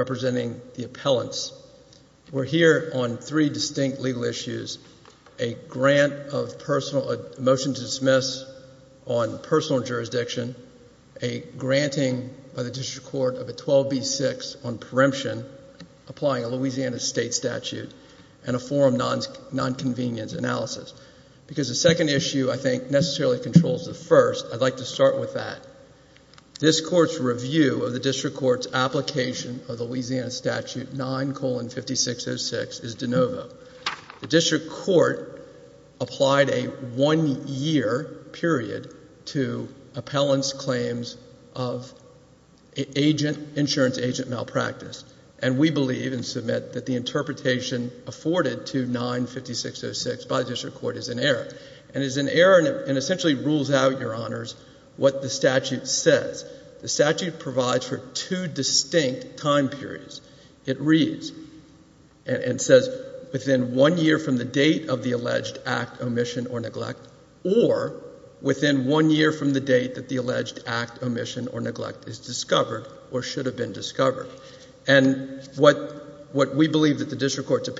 representing the appellants. We're here on three distinct legal issues, a motion to dismiss on personal jurisdiction, a granting by the District Court of a 12B6 on preemption applying a Louisiana state statute, and a forum nonconvenience analysis. Because the second issue, I think, necessarily controls the first, I'd like to start with that. This Court's review of the Louisiana statute, 9-5606, is de novo. The District Court applied a one-year period to appellants' claims of insurance agent malpractice. And we believe and submit that the interpretation afforded to 9-5606 by the District Court is an error. And it's an error and essentially rules out, Your Honors, what the statute says. The statute provides for two distinct time periods. It reads and says within one year from the date of the alleged act, omission or neglect, or within one year from the date that the alleged act, omission or neglect is discovered or should have been discovered. And what we believe that the District Court's in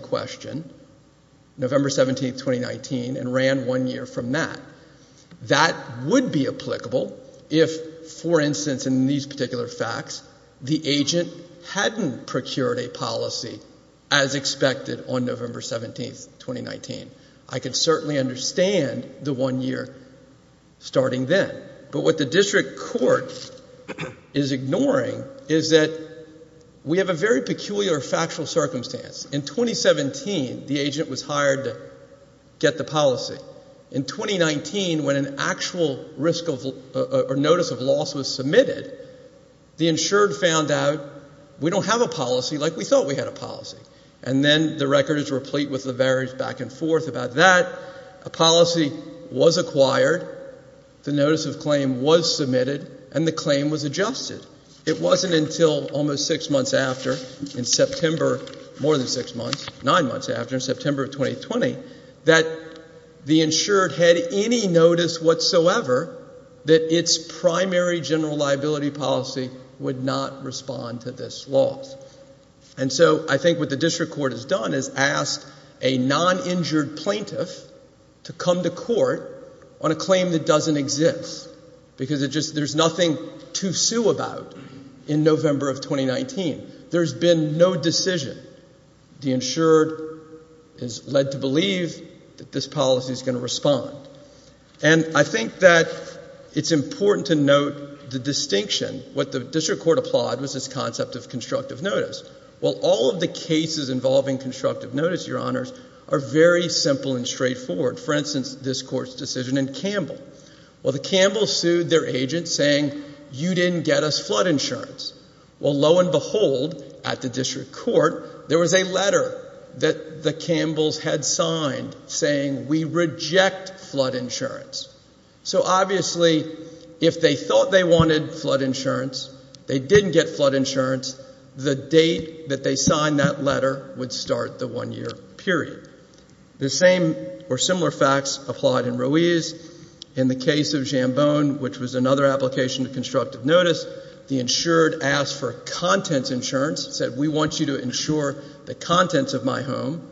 question, November 17th, 2019, and ran one year from that. That would be applicable if, for instance, in these particular facts, the agent hadn't procured a policy as expected on November 17th, 2019. I could certainly understand the one year starting then. But what the District Court is ignoring is that we have a very peculiar factual circumstance. In 2017, the agent was hired to get the policy. In 2019, when an actual risk or notice of loss was submitted, the insured found out we don't have a policy like we thought we had a policy. And then the record is replete with the various back and forth about that. A policy was acquired, the notice of claim was submitted, and the claim was adjusted. It wasn't until almost six months after, in September, more than six months, nine months after, in September of 2020, that the insured had any notice whatsoever that its primary general liability policy would not respond to this loss. And so I think what the District Court has done is asked a non-injured plaintiff to come to court on a claim that doesn't exist because there's nothing to sue about in November of 2019. There's been no decision. The insured is led to believe that this policy is going to respond. And I think that it's important to note the distinction. What the District Court applauded was this concept of constructive notice. Well, all of the cases involving constructive notice, Your Honors, are very simple and straightforward. For instance, this Court's decision in Campbell. Well, the Campbells sued their agent saying, you didn't get us flood insurance. Well, lo and behold, at the District Court, there was a letter that the Campbells had signed saying, we reject flood insurance. So obviously, if they thought they wanted flood insurance, they didn't get flood insurance. The date that they signed that letter would start the one-year period. The same or similar facts applied in Ruiz. In the case of Jambone, which was another application of constructive notice, the insured asked for contents insurance, said, we want you to insure the contents of my home.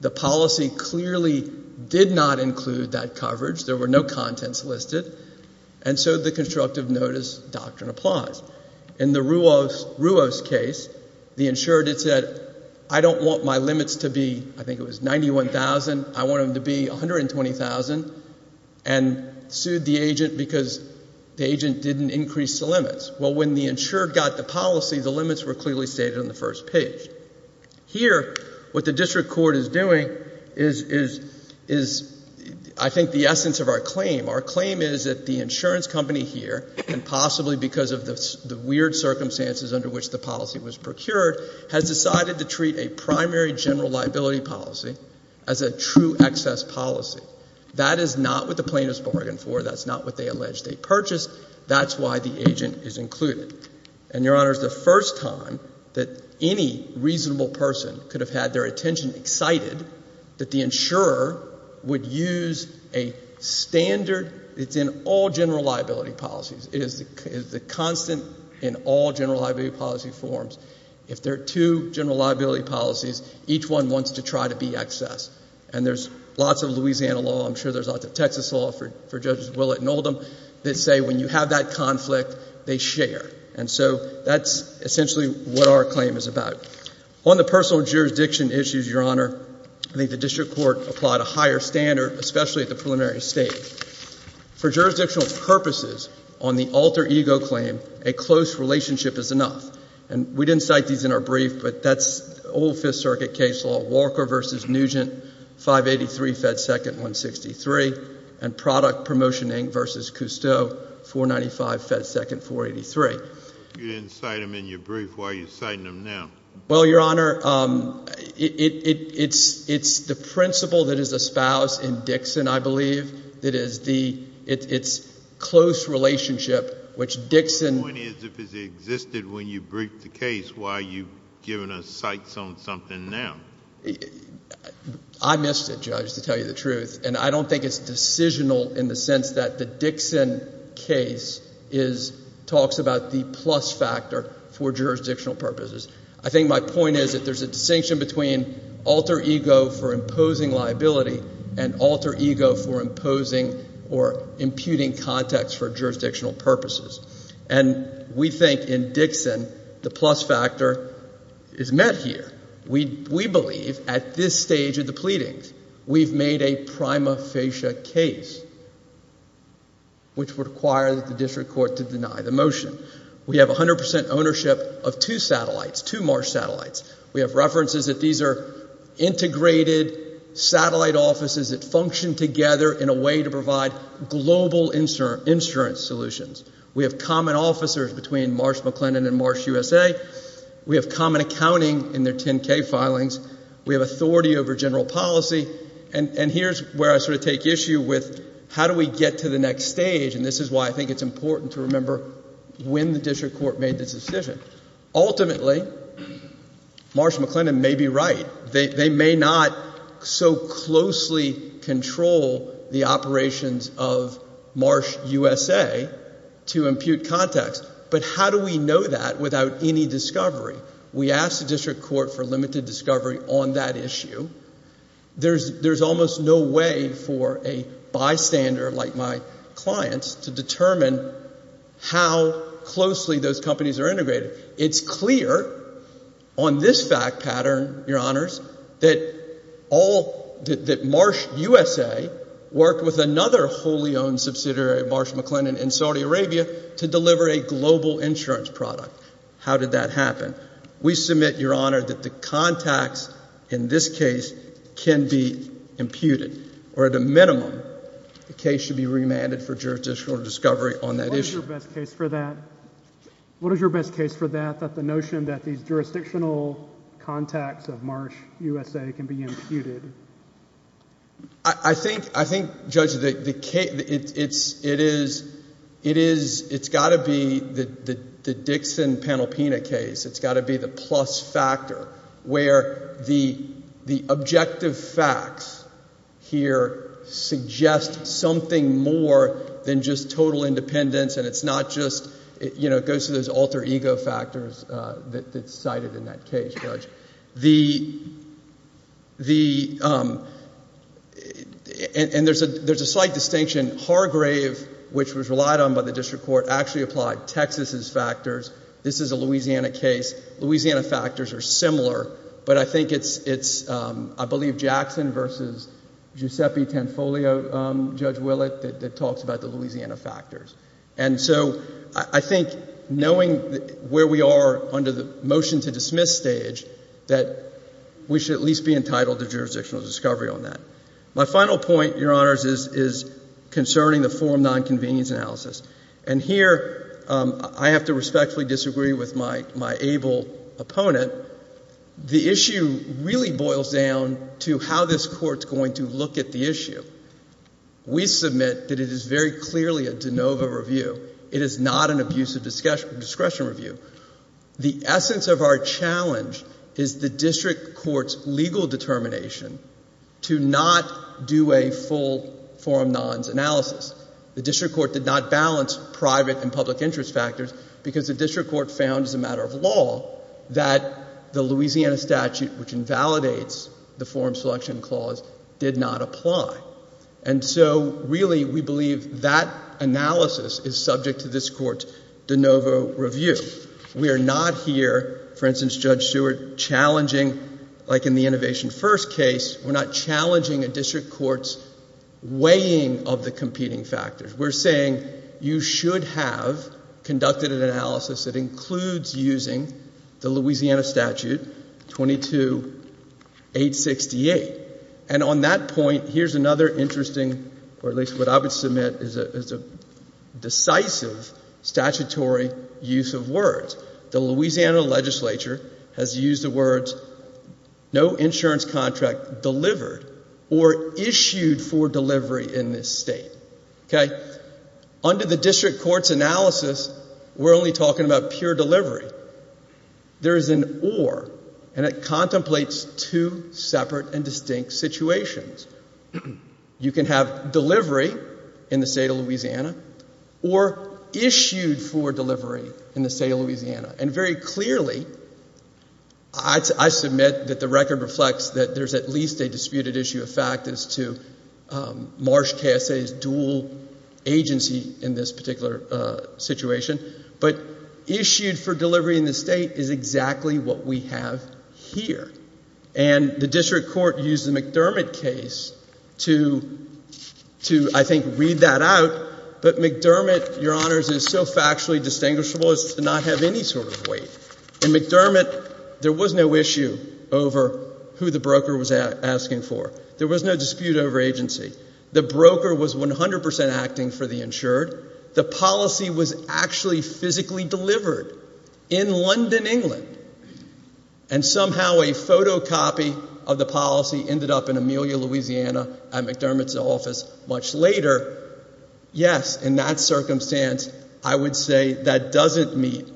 The policy clearly did not include that coverage. There were no contents listed. And so the constructive notice doctrine applies. In the Ruiz case, the insured had said, I don't want my limits to be, I think it was 91,000, I want them to be 120,000, and sued the agent because the agent didn't increase the limits. Well, when the insured got the policy, the limits were clearly stated on the first page. Here, what the District Court is doing is, I think, the essence of our claim. Our claim is that the insurance company here, and possibly because of the weird circumstances under which the policy was procured, has decided to treat a primary general liability policy as a true excess policy. That is not what the plaintiffs bargained for. That's not what they alleged they purchased. That's why the agent is included. And, Your Honors, the first time that any reasonable person could have had their attention excited that the insurer would use a standard that's in all general liability policies. It is the constant in all general liability policy forms. If there are two general liability policies, each one wants to try to be excess. And there's lots of Louisiana law, I'm sure there's lots of Texas law for Judges Willett and Oldham, that say when you have that conflict, they share. And so that's essentially what our claim is about. On the personal jurisdiction issues, Your Honor, I think the District Court applied a higher standard, especially at the preliminary stage. For jurisdictional purposes, on the alter ego claim, a close relationship is enough. And we didn't cite these in our brief, but that's old Fifth Circuit case law, Walker v. Nugent, 583 Fed 2nd 163, and product promotion Inc. v. Cousteau, 495 Fed 2nd 483. You didn't cite them in your brief. Why are you citing them now? Well, Your Honor, it's the principle that is espoused in Dixon, I believe, that is the, it's close relationship, which Dixon... The point is, if it existed when you briefed the case, why are you giving us cites on something now? I missed it, Judge, to tell you the truth. And I don't think it's decisional in the sense that the Dixon case is, talks about the plus factor for jurisdictional purposes. I think my point is that there's a distinction between alter ego for imposing liability and alter ego for imposing or imputing context for jurisdictional purposes. And we think in Dixon, the plus factor is met here. We believe, at this stage of the pleadings, we've made a prima facie case which would require the district court to deny the motion. We have 100% ownership of two satellites, two Marsh satellites. We have references that these are integrated satellite offices that function together in a way to provide global insurance solutions. We have common officers between Marsh-McLennan and Marsh-USA. We have common accounting in their 10-K filings. We have authority over general policy. And here's where I sort of take issue with how do we get to the next stage, and this is why I think it's important to remember when the district court made this decision. Ultimately, Marsh-McLennan may be right. They may not so closely control the operations of Marsh-USA to impute context. But how do we know that without any discovery? We asked the district court for limited discovery on that issue. There's almost no way for a bystander like my clients to determine how closely those companies are integrated. It's clear on this fact pattern, Your Honors, that Marsh-USA worked with another wholly owned subsidiary of Marsh-McLennan in Saudi Arabia to deliver a global insurance product. How did that happen? We submit, Your Honor, that the context in this case can be imputed, or at a minimum, the case should be remanded for jurisdictional discovery on that issue. What is your best case for that? What is your best case for that, that the notion that these jurisdictional contacts of Marsh-USA can be imputed? I think, Judge, it's got to be the Dixon-Penalpina case. It's got to be the plus factor. It's got to be the fact where the objective facts here suggest something more than just total independence and it's not just, you know, it goes to those alter ego factors that's cited in that case, Judge. There's a slight distinction. Hargrave, which was relied on by the district court, actually applied Texas's factors. This is a Louisiana case. Louisiana factors are similar, but I think it's, I believe, Jackson versus Giuseppe Tanfoglio, Judge Willett, that talks about the Louisiana factors. And so I think knowing where we are under the motion to dismiss stage that we should at least be entitled to jurisdictional discovery on that. My final point, Your Honors, is concerning the forum nonconvenience analysis. And here, I have to respectfully disagree with my able opponent. The issue really boils down to how this Court's going to look at the issue. We submit that it is very clearly a de novo review. It is not an abusive discretion review. The essence of our challenge is the district court's legal determination to not do a full forum nons analysis. The district court did not balance private and public interest factors because the district court found as a matter of law that the Louisiana statute, which invalidates the forum selection clause, did not apply. And so, really, we believe that analysis is subject to this Court's de novo review. We are not challenging a district court's weighing of the competing factors. We're saying you should have conducted an analysis that includes using the Louisiana statute 22-868. And on that point, here's another interesting, or at least what I would submit, is a decisive statutory use of words. The Louisiana legislature has used the words, no insurance contract delivered or issued for delivery in this state. Okay? Under the district court's analysis, we're only talking about pure delivery. There is an or, and it contemplates two separate and distinct situations. You can have delivery in the state of Louisiana, or issued for delivery in the state of Louisiana. And very clearly, I submit that the record reflects that there's at least a disputed issue of fact as to Marsh KSA's dual agency in this particular situation. But issued for delivery in the state is exactly what we have here. And the district court used the McDermott case to, I think, read that out. But McDermott, Your Honors, is correct in that it's so factually distinguishable as to not have any sort of weight. In McDermott, there was no issue over who the broker was asking for. There was no dispute over agency. The broker was 100% acting for the insured. The policy was actually physically delivered in London, England. And somehow a photocopy of the policy ended up in Amelia, Louisiana at McDermott's office much later. Yes, in that circumstance, I would say that doesn't meet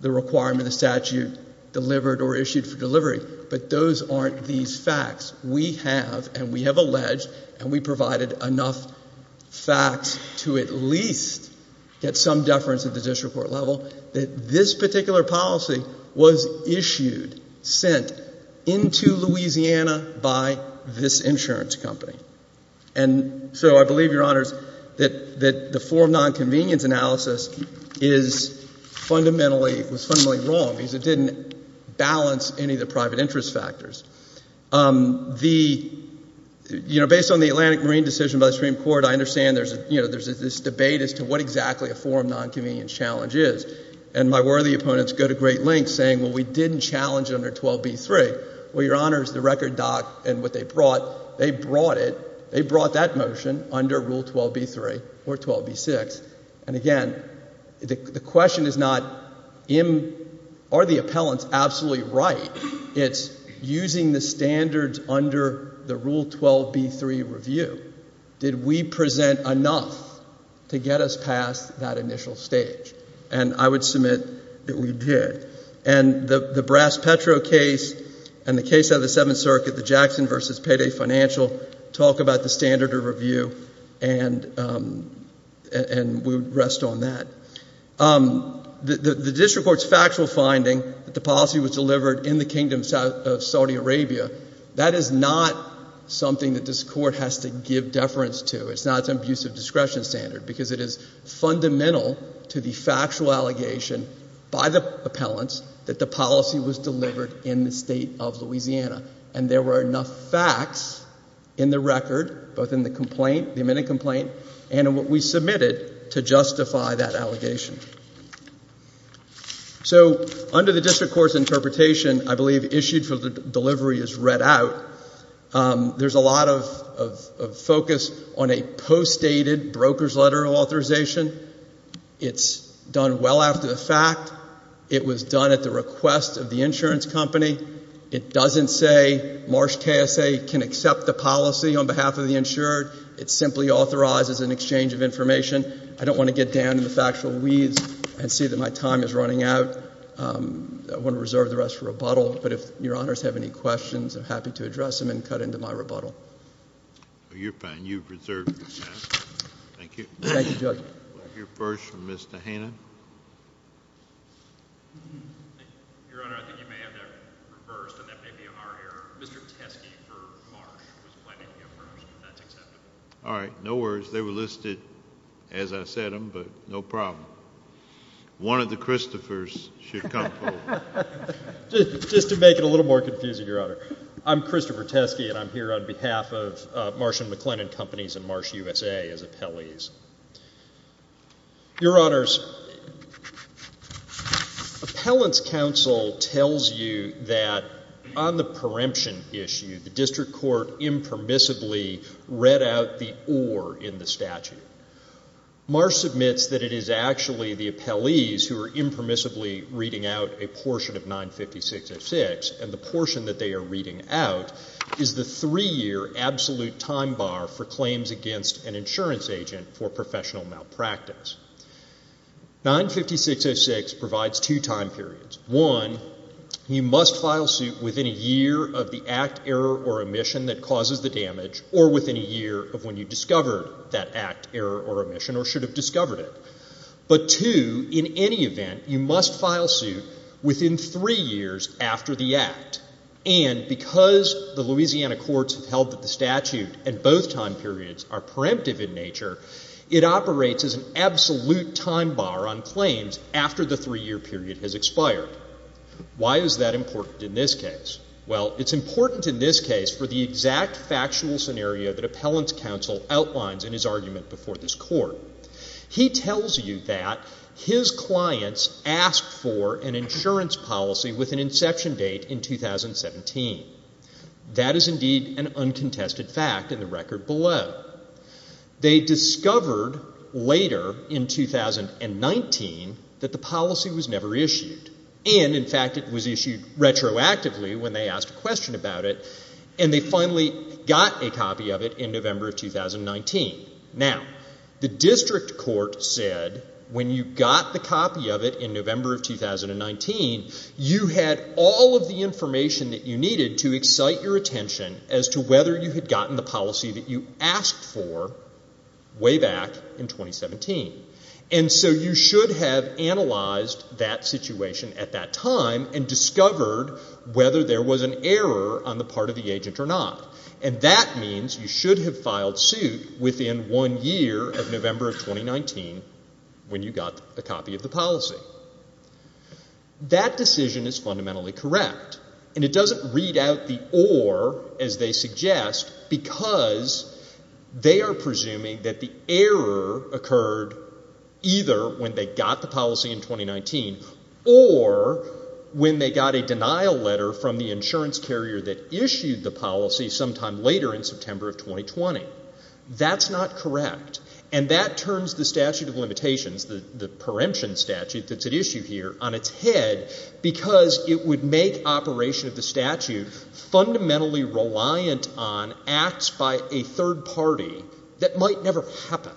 the requirement of statute delivered or issued for delivery. But those aren't these facts. We have, and we have alleged, and we provided enough facts to at least get some deference at the district court level, that this particular policy was issued, sent into Louisiana by this insurance company. And so I believe, Your Honors, that the forum nonconvenience analysis is fundamentally, was fundamentally wrong because it didn't balance any of the private interest factors. The, you know, based on the Atlantic Marine decision by the Supreme Court, I understand there's a, you know, there's this debate as to what exactly a forum nonconvenience challenge is. And my worthy opponents go to the record doc and what they brought, they brought it, they brought that motion under Rule 12b-3 or 12b-6. And again, the question is not, are the appellants absolutely right? It's using the standards under the Rule 12b-3 review. Did we present enough to get us past that initial stage? And I would submit that we did. And the Brass-Petro case and the case of the Seventh Circuit, the Jackson v. Payday Financial, talk about the standard of review and we would rest on that. The district court's factual finding that the policy was delivered in the Kingdom of Saudi Arabia, that is not something that this Court has to give deference to. It's not its abusive discretion standard because it is fundamental to the factual allegation by the appellants that the policy was delivered in the state of Louisiana. And there were enough facts in the record, both in the complaint, the amended complaint, and in what we submitted to justify that allegation. So under the district court's interpretation, I believe issued for the delivery as read out, there's a lot of focus on a postdated broker's letter of authorization. It's done well after the fact. It was done at the request of the insurance company. It doesn't say Marsh KSA can accept the policy on behalf of the insured. It simply authorizes an exchange of information. I don't want to get down in the factual weeds and see that my time is running out. I want to reserve the rest for rebuttal. But if Your Honors have any questions, I'm happy to address them and cut into my rebuttal. Well, you're fine. You've reserved your time. Thank you. Thank you, Judge. We'll hear first from Mr. Hannon. Your Honor, I think you may have that reversed, and that may be our error. Mr. Teske for Marsh was planning to get first, but that's acceptable. All right. No worries. They were listed as I said them, but no problem. One of the Christophers should come forward. Just to make it a little more confusing, Your Honor, I'm Christopher Teske, and I'm here on behalf of Marsh & McLennan Companies and Marsh USA as appellees. Your Honors, Appellant's counsel tells you that on the preemption issue, the district court impermissibly read out the or in the statute. Marsh submits that it is actually the appellees who are impermissibly reading out a portion of 956.06, and the portion that they are reading out is the three-year absolute time bar for claims against an insurance agent for professional malpractice. 956.06 provides two time periods. One, you must file suit within a year of the act, error, or omission that causes the damage, or within a year of when you discovered that act, error, or omission, or should have discovered it. But two, in any event, you must file suit within three years after the act. And because the Louisiana courts have held that the statute and both time periods are preemptive in nature, it operates as an absolute time bar on claims after the three-year period has expired. Why is that important in this case? Well, it's important in this case for the exact factual scenario that Appellant's counsel outlines in his argument before this Court. He tells you that his clients asked for an insurance policy with an inception date in 2017. That is indeed an uncontested fact in the record below. They discovered later in 2019 that the policy was never issued, and in fact it was issued retroactively when they asked a question about it, and they finally got a copy of it in November of 2019. Now, the district court said when you got the copy of it in November of 2019, you had all of the information that you needed to excite your attention as to whether you had gotten the policy that you asked for way back in 2017. And so you should have analyzed that situation at that time and discovered whether there was an error on the part of the agent or not. And that means you should have filed suit within one year of November of 2019 when you got a copy of the policy. That decision is fundamentally correct, and it doesn't read out the or as they suggest because they are presuming that the error occurred either when they got the policy in 2019 or when they got a denial letter from the insurance carrier that issued the policy sometime later in September of 2020. That's not correct, and that turns the statute of limitations, the preemption statute that's at issue here, on its head because it would make operation of the statute fundamentally reliant on acts by a third party that might never happen.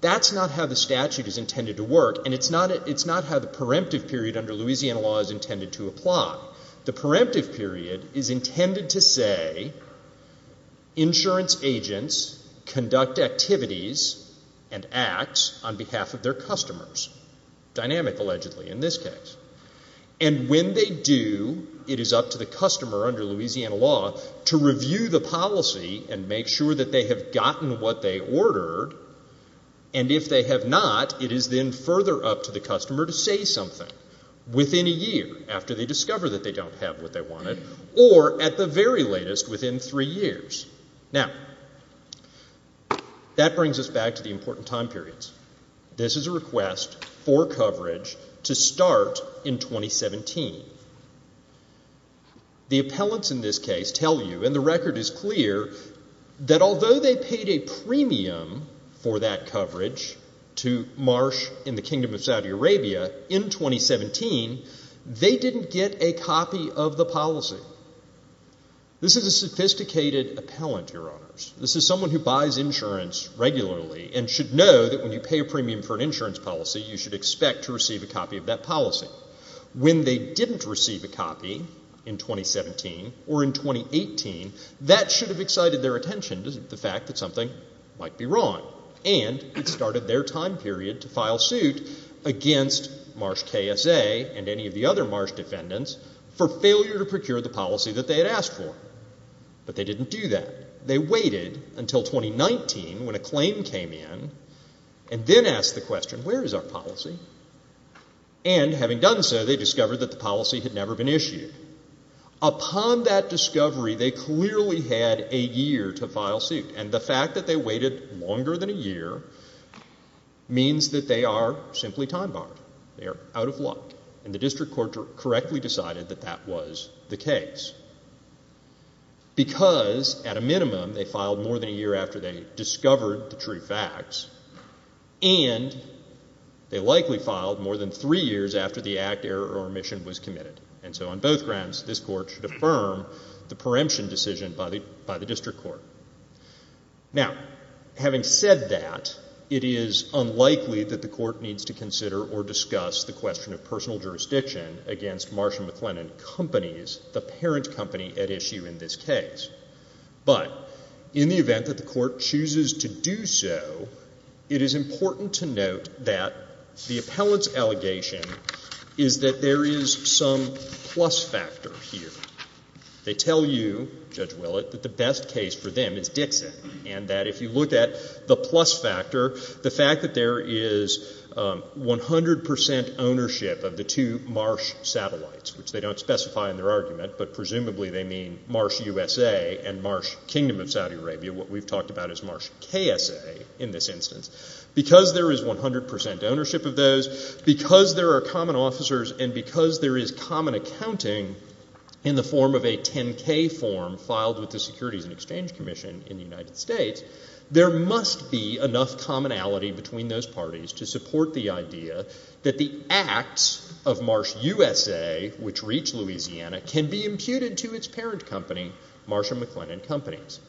That's not how the statute is intended to work, and it's not how the preemptive period under Louisiana law is intended to apply. The preemptive period is intended to say insurance agents conduct activities and acts on behalf of their customers. Dynamic, allegedly, in this case. And when they do, it is up to the customer under Louisiana law to review the policy and make sure that they have gotten what they ordered, and if they have not, it is then further up to the customer to say something within a year after they discover that they don't have what they wanted or at the very latest within three years. Now, that brings us back to the important time periods. This is a request for coverage to start in 2017. The appellants in this case tell you, and the record is clear, that although they paid a premium for that coverage to Marsh in the Kingdom of Saudi Arabia in 2017, they didn't get a copy of the policy. This is a sophisticated appellant, Your Honors. This is someone who buys insurance regularly and should know that when you pay a premium for an insurance policy, you should expect to receive a copy of that policy. When they didn't receive a copy in 2017 or in 2018, that should have excited their attention, the fact that something might be wrong, and it started their time period to file suit against Marsh KSA and any of the other Marsh defendants for failure to procure the policy that they had asked for. But they didn't do that. They waited until 2019 when a claim came in and then asked the question, where is our policy? And having done so, they discovered that the policy had never been issued. Upon that discovery, they clearly had a year to file suit. And the fact that they waited longer than a year means that they are simply time-barred. They are out of luck. And the district court correctly decided that that was the case because, at a minimum, they filed more than a year after they discovered the true facts, and they likely filed more than three years after the act, error, or omission was committed. And so on both grounds, this court should affirm the preemption decision by the district court. Now, having said that, it is unlikely that the court needs to consider or discuss the question of personal jurisdiction against Marsh & McLennan Companies, the parent company at issue in this case. But in the event that the court chooses to do so, it is important to note that the appellant's allegation is that there is some plus factor here. They tell you, Judge Willett, that the best case for them is Dixon, and that if you look at the plus factor, the fact that there is 100% ownership of the two Marsh satellites, which they don't specify in their argument, but presumably they mean Marsh USA and Marsh Kingdom of Saudi Arabia. What we've talked about is Marsh KSA in this instance. Because there is 100% ownership of those, because there are common officers, and because there is common accounting in the form of a 10-K form filed with the Securities and Exchange Commission in the United States, there must be enough commonality between those parties to support the idea that the acts of Marsh USA, which reach Louisiana, can be imputed to its parent company, Marsh & McLennan Companies.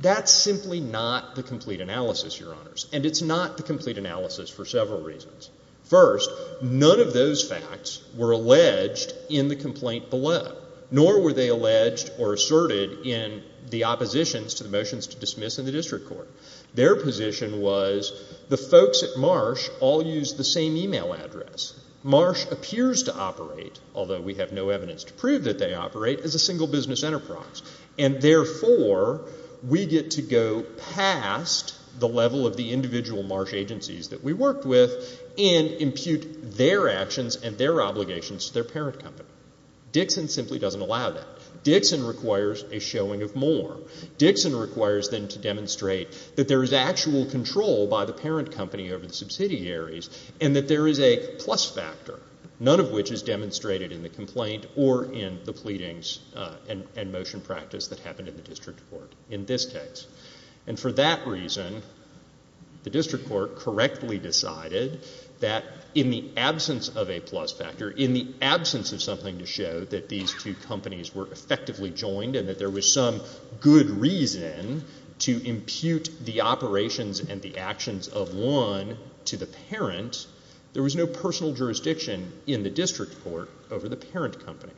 That's simply not the complete analysis, Your Honors. And it's not the complete analysis for several reasons. First, none of those facts were alleged in the complaint below, nor were they alleged or asserted in the oppositions to the motions to dismiss in the district court. Their position was the folks at Marsh all used the same e-mail address. Marsh appears to operate, although we have no evidence to prove that they operate, as a single business enterprise. And therefore, we get to go past the level of the individual Marsh agencies that we worked with and impute their actions and their obligations to their parent company. Dixon simply doesn't allow that. Dixon requires a showing of more. Dixon requires them to demonstrate that there is actual control by the parent company over the subsidiaries, and that there is a plus factor, none of which is demonstrated in the complaint or in the pleadings and motion practice that happened in the district court in this case. And for that reason, the district court correctly decided that in the absence of a plus factor, in the absence of something to show that these two companies were effectively joined and that there was some good reason to impute the operations and the actions of one to the parent, there was no personal jurisdiction in the district court over the parent company.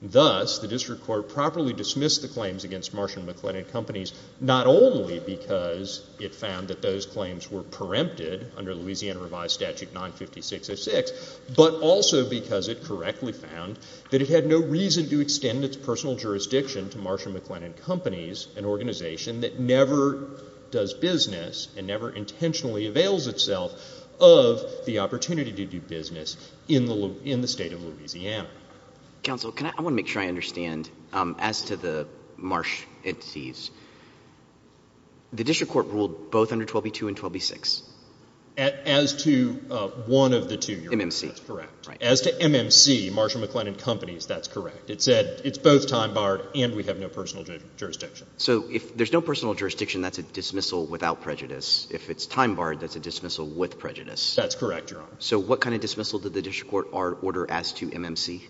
Thus, the district court properly dismissed the claims against Marsh and McLennan Companies, not only because it found that those claims were preempted under Louisiana Revised Statute 956.06, but also because it correctly found that it had no reason to extend its personal jurisdiction to Marsh and McLennan Companies, an organization that never does business and never intentionally avails itself of the opportunity to do business in the state of Louisiana. Counsel, I want to make sure I understand. As to the Marsh entities, the district court ruled both under 12b-2 and 12b-6? As to one of the two, Your Honor. MMC. That's correct. As to MMC, Marsh and McLennan Companies, that's correct. It said it's both time-barred and we have no personal jurisdiction. So if there's no personal jurisdiction, that's a dismissal without prejudice. If it's time-barred, that's a dismissal with prejudice. That's correct, Your Honor. So what kind of dismissal did the district court order as to MMC?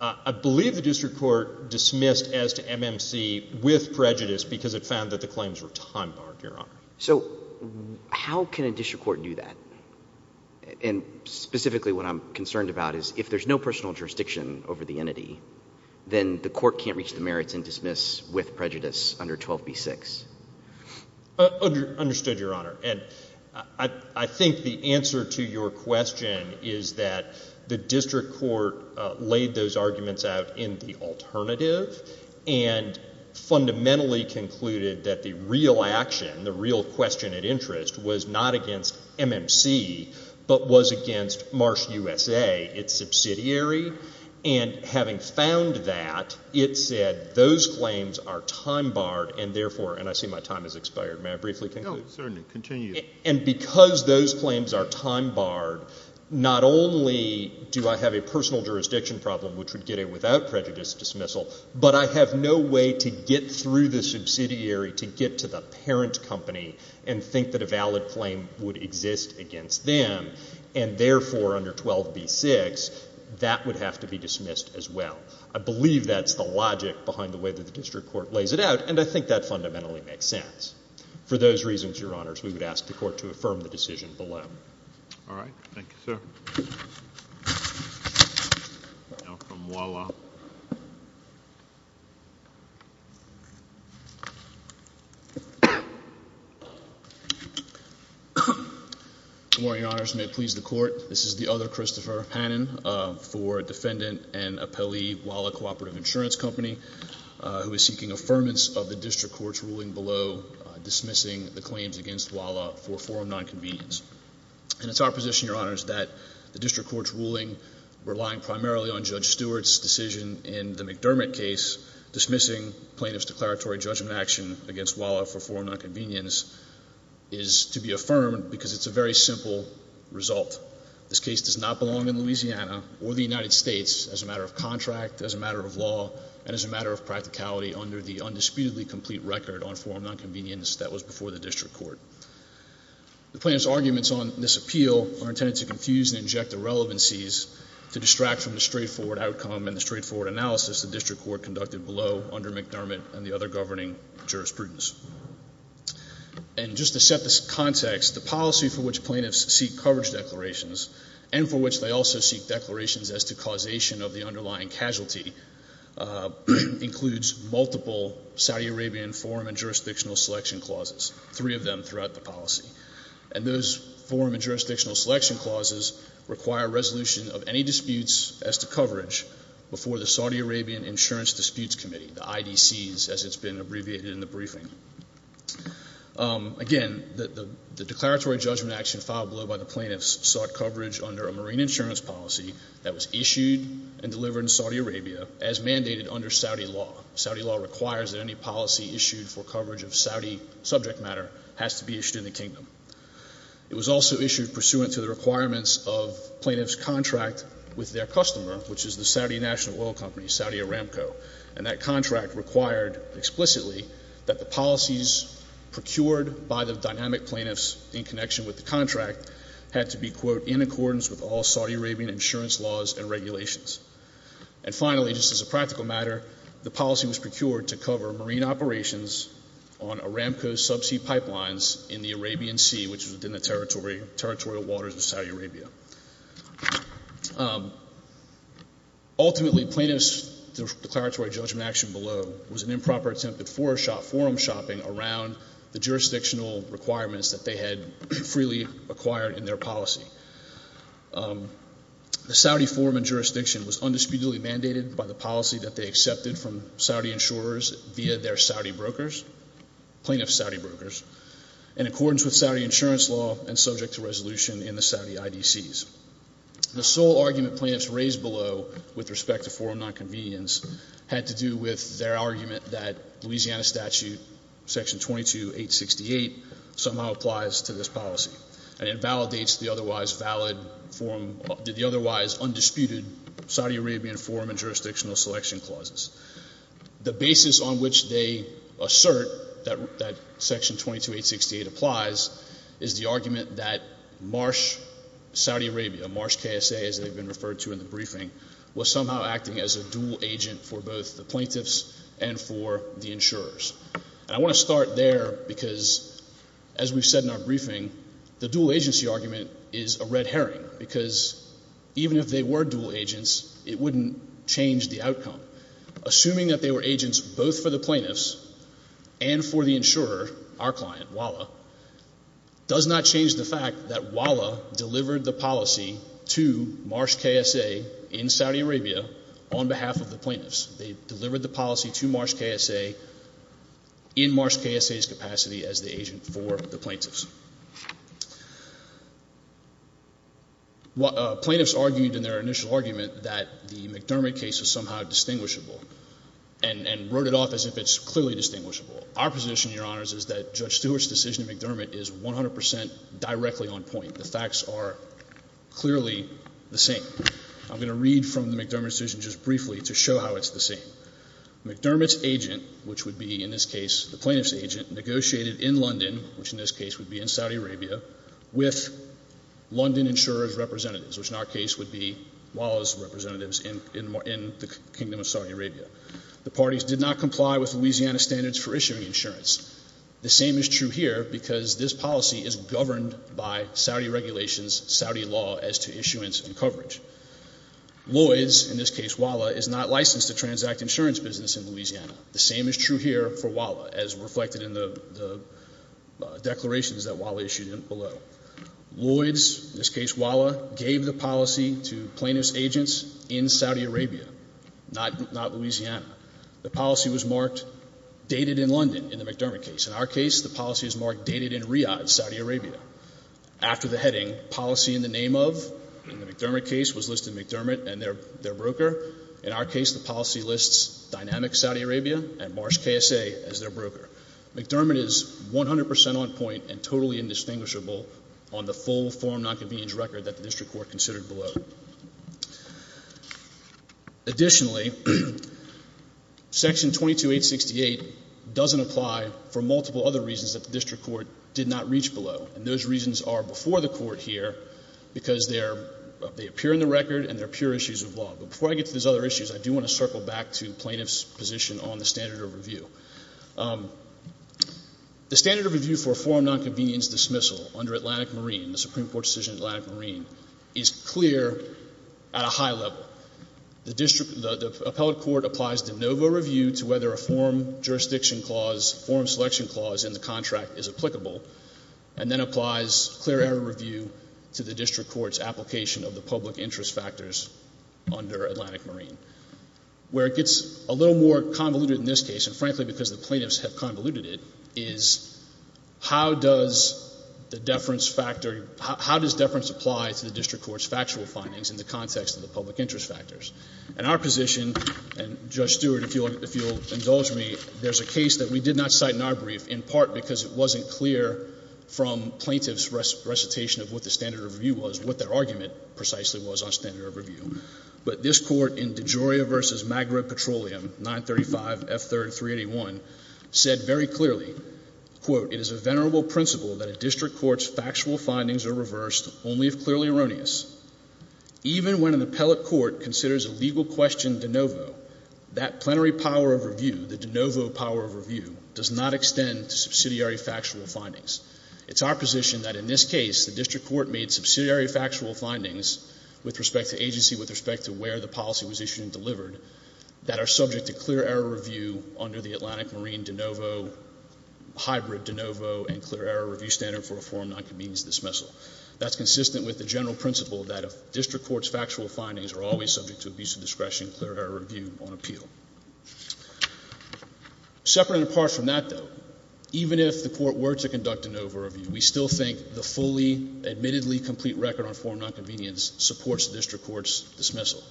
I believe the district court dismissed as to MMC with prejudice because it found that the claims were time-barred, Your Honor. So how can a district court do that? And specifically what I'm concerned about is if there's no personal jurisdiction over the entity, then the court can't reach the merits and dismiss with prejudice under 12b-6. Understood, Your Honor. And I think the answer to your question is that the district court laid those arguments out in the alternative and fundamentally concluded that the real action, the real question at interest, was not against MMC but was against Marsh USA, its subsidiary. And having found that, it said those claims are time-barred and, therefore, and I see my time has expired. May I briefly conclude? No, certainly. Continue. And because those claims are time-barred, not only do I have a personal jurisdiction problem, which would get it without prejudice dismissal, but I have no way to get through the subsidiary to get to the parent company and think that a valid claim would exist against them. And, therefore, under 12b-6, that would have to be dismissed as well. I believe that's the logic behind the way that the district court lays it out, and I think that fundamentally makes sense. For those reasons, Your Honors, we would ask the court to affirm the decision below. All right. Thank you, sir. Now from WALA. Good morning, Your Honors. May it please the court, this is the other Christopher Hannon for defendant and appellee WALA Cooperative Insurance Company, who is seeking affirmance of the district court's ruling below dismissing the claims against WALA for forum nonconvenience. And it's our position, Your Honors, that the district court's ruling, relying primarily on Judge Stewart's decision in the McDermott case, dismissing plaintiff's declaratory judgment action against WALA for forum nonconvenience, is to be affirmed because it's a very simple result. This case does not belong in Louisiana or the United States as a matter of contract, as a matter of law, and as a matter of practicality under the undisputedly complete record on forum nonconvenience that was before the district court. The plaintiff's arguments on this appeal are intended to confuse and inject irrelevancies to distract from the straightforward outcome and the straightforward analysis the district court conducted below under McDermott and the other governing jurisprudence. And just to set the context, the policy for which plaintiffs seek coverage declarations and for which they also seek declarations as to causation of the underlying casualty includes multiple Saudi Arabian forum and jurisdictional selection clauses, three of them throughout the policy. And those forum and jurisdictional selection clauses require resolution of any disputes as to coverage before the Saudi Arabian Insurance Disputes Committee, the IDCs as it's been abbreviated in the briefing. Again, the declaratory judgment action filed below by the plaintiffs sought coverage under a marine insurance policy that was issued and delivered in Saudi Arabia as mandated under Saudi law. Saudi law requires that any policy issued for coverage of Saudi subject matter has to be issued in the kingdom. It was also issued pursuant to the requirements of plaintiff's contract with their customer, which is the Saudi National Oil Company, Saudi Aramco. And that contract required explicitly that the policies procured by the dynamic plaintiffs in connection with the contract had to be, quote, in accordance with all Saudi Arabian insurance laws and regulations. And finally, just as a practical matter, the policy was procured to cover marine operations on Aramco subsea pipelines in the Arabian Sea, which is within the territorial waters of Saudi Arabia. Ultimately, plaintiff's declaratory judgment action below was an improper attempt at forum shopping around the jurisdictional requirements that they had freely acquired in their policy. The Saudi forum and jurisdiction was undisputedly mandated by the policy that they accepted from Saudi insurers via their Saudi brokers, plaintiff's Saudi brokers, in accordance with Saudi insurance law and subject to resolution in the Saudi IDCs. The sole argument plaintiffs raised below with respect to forum nonconvenience had to do with their argument that Louisiana Statute Section 22868 somehow applies to this policy and invalidates the otherwise undisputed Saudi Arabian forum and jurisdictional selection clauses. The basis on which they assert that Section 22868 applies is the argument that Marsh Saudi Arabia, Marsh KSA as they've been referred to in the briefing, was somehow acting as a dual agent for both the plaintiffs and for the insurers. And I want to start there because, as we've said in our briefing, the dual agency argument is a red herring because even if they were dual agents, it wouldn't change the outcome. Assuming that they were agents both for the plaintiffs and for the insurer, our client, WALA, does not change the fact that WALA delivered the policy to Marsh KSA in Saudi Arabia on behalf of the plaintiffs. They delivered the policy to Marsh KSA in Marsh KSA's capacity as the agent for the plaintiffs. Plaintiffs argued in their initial argument that the McDermott case is somehow distinguishable and wrote it off as if it's clearly distinguishable. Our position, Your Honors, is that Judge Stewart's decision in McDermott is 100% directly on point. The facts are clearly the same. I'm going to read from the McDermott decision just briefly to show how it's the same. McDermott's agent, which would be in this case the plaintiff's agent, negotiated in London, which in this case would be in Saudi Arabia, with London insurer's representatives, which in our case would be WALA's representatives in the Kingdom of Saudi Arabia. The parties did not comply with Louisiana standards for issuing insurance. The same is true here because this policy is governed by Saudi regulations, Saudi law as to issuance and coverage. Lloyd's, in this case WALA, is not licensed to transact insurance business in Louisiana. The same is true here for WALA as reflected in the declarations that WALA issued below. Lloyd's, in this case WALA, gave the policy to plaintiffs' agents in Saudi Arabia, not Louisiana. The policy was marked dated in London in the McDermott case. In our case, the policy is marked dated in Riyadh, Saudi Arabia. After the heading, policy in the name of, in the McDermott case, was listed McDermott and their broker. In our case, the policy lists Dynamic Saudi Arabia and Marsh KSA as their broker. McDermott is 100 percent on point and totally indistinguishable on the full form nonconvenience record that the district court considered below. Additionally, Section 22868 doesn't apply for multiple other reasons that the district court did not reach below. And those reasons are before the court here because they appear in the record and they're pure issues of law. But before I get to these other issues, I do want to circle back to plaintiffs' position on the standard of review. The standard of review for a form nonconvenience dismissal under Atlantic Marine, the Supreme Court decision Atlantic Marine, is clear at a high level. The appellate court applies de novo review to whether a form jurisdiction clause, a form selection clause in the contract is applicable, and then applies clear error review to the district court's application of the public interest factors under Atlantic Marine. Where it gets a little more convoluted in this case, and frankly because the plaintiffs have convoluted it, is how does the deference factor, how does deference apply to the district court's factual findings in the context of the public interest factors? In our position, and Judge Stewart, if you'll indulge me, there's a case that we did not cite in our brief, in part because it wasn't clear from plaintiffs' recitation of what the standard of review was, what their argument precisely was on standard of review. But this court in DeGioia v. Magra Petroleum, 935F3381, said very clearly, quote, it is a venerable principle that a district court's factual findings are reversed only if clearly erroneous. Even when an appellate court considers a legal question de novo, that plenary power of review, the de novo power of review, does not extend to subsidiary factual findings. It's our position that in this case, the district court made subsidiary factual findings with respect to agency, with respect to where the policy was issued and delivered, that are subject to clear error review under the Atlantic Marine de novo, hybrid de novo, and clear error review standard for a form of nonconvenience dismissal. That's consistent with the general principle that a district court's factual findings are always subject to abuse of discretion, clear error review on appeal. Separate and apart from that, though, even if the court were to conduct a de novo review, we still think the fully admittedly complete record on form of nonconvenience supports the district court's dismissal.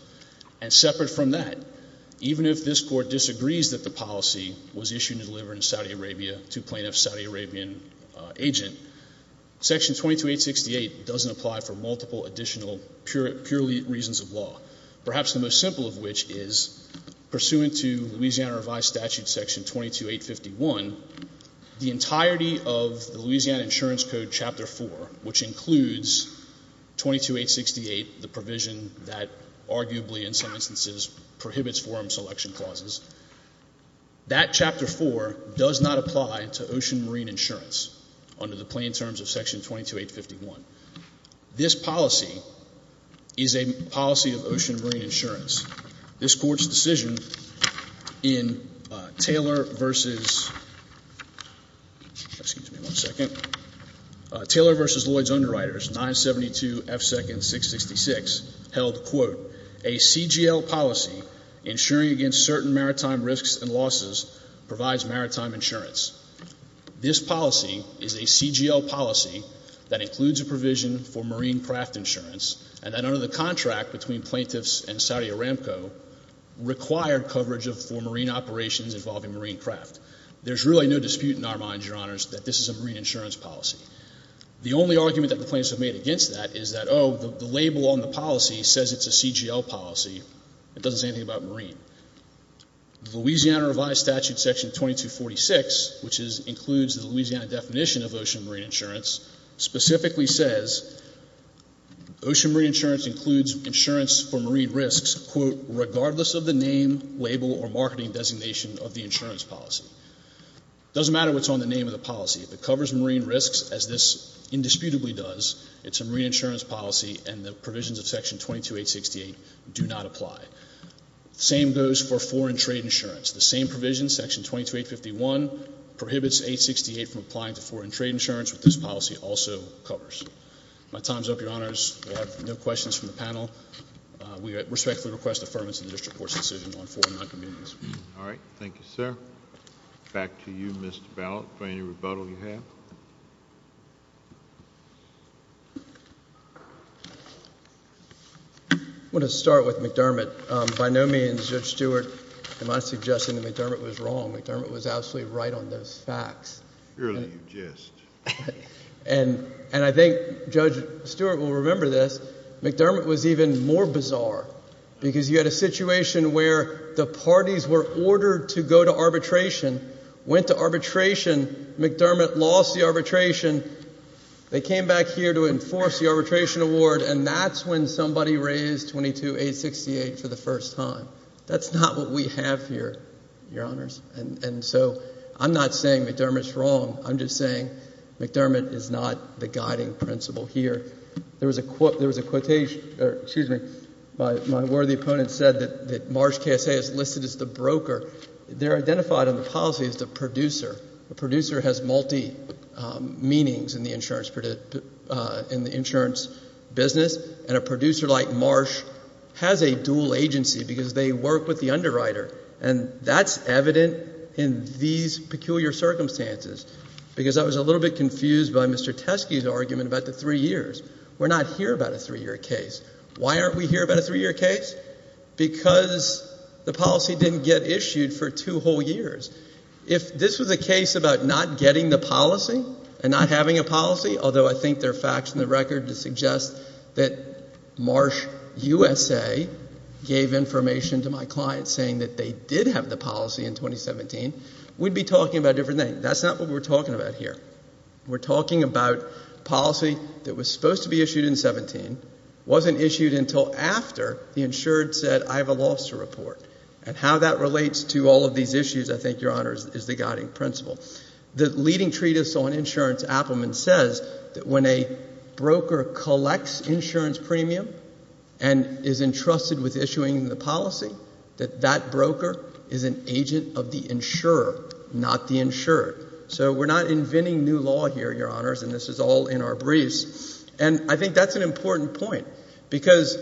And separate from that, even if this court disagrees that the policy was issued and delivered in Saudi Arabia to a plaintiff's Saudi Arabian agent, Section 22868 doesn't apply for multiple additional purely reasons of law, perhaps the most simple of which is pursuant to Louisiana Revised Statute Section 22851, the entirety of the Louisiana Insurance Code Chapter 4, which includes 22868, the provision that arguably in some instances prohibits forum selection clauses, that Chapter 4 does not apply to ocean marine insurance under the plain terms of Section 22851. This policy is a policy of ocean marine insurance. This court's decision in Taylor versus Lloyds Underwriters, 972 F. Second 666, held, quote, a CGL policy insuring against certain maritime risks and losses provides maritime insurance. This policy is a CGL policy that includes a provision for marine craft insurance and that under the contract between plaintiffs and Saudi Aramco required coverage for marine operations involving marine craft. There's really no dispute in our minds, Your Honors, that this is a marine insurance policy. The only argument that the plaintiffs have made against that is that, oh, the label on the policy says it's a CGL policy. It doesn't say anything about marine. The Louisiana Revised Statute Section 2246, which includes the Louisiana definition of ocean marine insurance, specifically says ocean marine insurance includes insurance for marine risks, quote, regardless of the name, label, or marketing designation of the insurance policy. It doesn't matter what's on the name of the policy. If it covers marine risks, as this indisputably does, it's a marine insurance policy, and the provisions of Section 22868 do not apply. The same goes for foreign trade insurance. The same provision, Section 22851, prohibits 868 from applying to foreign trade insurance, which this policy also covers. My time's up, Your Honors. There are no questions from the panel. We respectfully request affirmance of the district court's decision on foreign non-communities. All right. Thank you, sir. Back to you, Mr. Ballot, for any rebuttal you have. I want to start with McDermott. By no means, Judge Stewart, am I suggesting that McDermott was wrong. McDermott was absolutely right on those facts. Really, you jest. And I think Judge Stewart will remember this. Because you had a situation where the parties were ordered to go to arbitration, went to arbitration. McDermott lost the arbitration. They came back here to enforce the arbitration award, and that's when somebody raised 22868 for the first time. That's not what we have here, Your Honors. And so I'm not saying McDermott's wrong. I'm just saying McDermott is not the guiding principle here. There was a quotation, or excuse me, my worthy opponent said that Marsh KSA is listed as the broker. They're identified on the policy as the producer. The producer has multi-meanings in the insurance business. And a producer like Marsh has a dual agency because they work with the underwriter. And that's evident in these peculiar circumstances. Because I was a little bit confused by Mr. Teske's argument about the three years. We're not here about a three-year case. Why aren't we here about a three-year case? Because the policy didn't get issued for two whole years. If this was a case about not getting the policy and not having a policy, although I think there are facts in the record that suggest that Marsh USA gave information to my client saying that they did have the policy in 2017, we'd be talking about a different thing. That's not what we're talking about here. We're talking about policy that was supposed to be issued in 2017, wasn't issued until after the insured said, I have a loss to report. And how that relates to all of these issues, I think, Your Honors, is the guiding principle. The leading treatise on insurance, Appelman, says that when a broker collects insurance premium and is entrusted with issuing the policy, that that broker is an agent of the insurer, not the insured. So we're not inventing new law here, Your Honors, and this is all in our briefs. And I think that's an important point because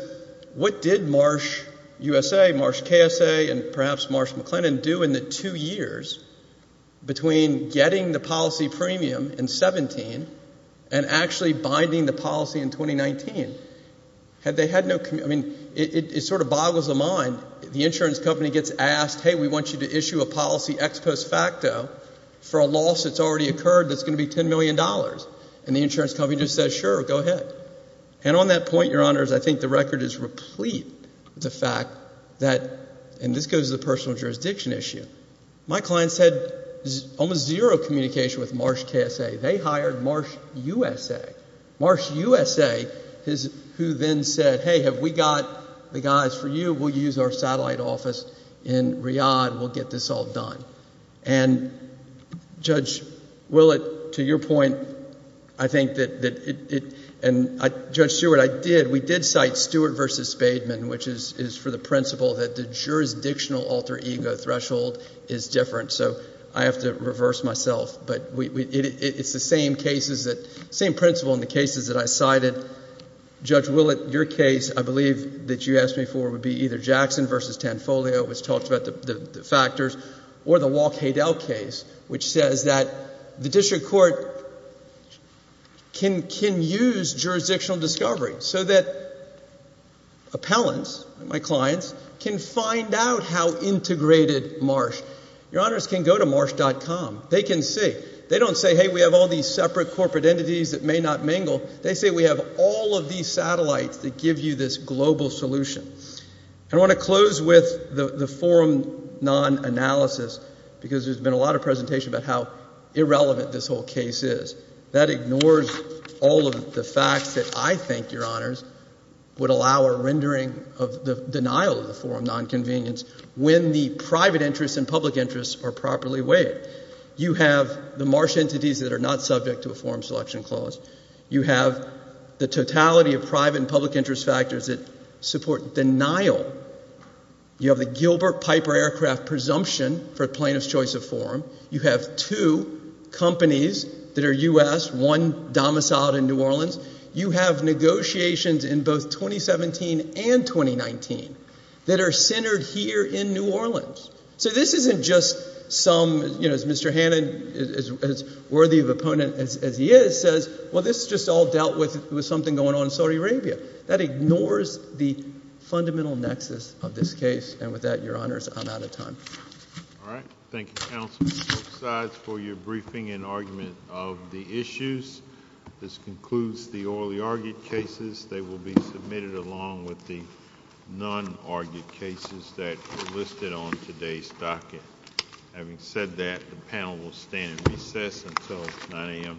what did Marsh USA, Marsh KSA, and perhaps Marsh McLennan do in the two years between getting the policy premium in 2017 and actually binding the policy in 2019? Had they had no, I mean, it sort of boggles the mind. The insurance company gets asked, hey, we want you to issue a policy ex post facto for a loss that's already occurred that's going to be $10 million. And the insurance company just says, sure, go ahead. And on that point, Your Honors, I think the record is replete with the fact that, and this goes to the personal jurisdiction issue, my clients had almost zero communication with Marsh KSA. They hired Marsh USA. Marsh USA, who then said, hey, have we got the guys for you? We'll use our satellite office in Riyadh. We'll get this all done. And, Judge Willett, to your point, I think that it, and Judge Stewart, I did, we did cite Stewart v. Spademan, which is for the principle that the jurisdictional alter ego threshold is different. So I have to reverse myself. But it's the same cases that, same principle in the cases that I cited. Judge Willett, your case, I believe, that you asked me for would be either Jackson v. Tanfoglio, which talks about the factors, or the Walk Hadel case, which says that the district court can use jurisdictional discovery so that appellants, my clients, can find out how integrated Marsh. Your Honors can go to marsh.com. They can see. They don't say, hey, we have all these separate corporate entities that may not mingle. They say we have all of these satellites that give you this global solution. I want to close with the forum non-analysis because there's been a lot of presentation about how irrelevant this whole case is. That ignores all of the facts that I think, Your Honors, would allow a rendering of the denial of the forum non-convenience when the private interests and public interests are properly weighed. You have the Marsh entities that are not subject to a forum selection clause. You have the totality of private and public interest factors that support denial. You have the Gilbert Piper aircraft presumption for plaintiff's choice of forum. You have two companies that are U.S., one domiciled in New Orleans. You have negotiations in both 2017 and 2019 that are centered here in New Orleans. So this isn't just some, you know, as Mr. Hannan is worthy of opponent as he is, says, well, this is just all dealt with with something going on in Saudi Arabia. That ignores the fundamental nexus of this case. And with that, Your Honors, I'm out of time. All right. Thank you, Counsel. Both sides for your briefing and argument of the issues. This concludes the orally argued cases. They will be submitted along with the non-argued cases that are listed on today's docket. Having said that, the panel will stand in recess until 9 a.m. tomorrow.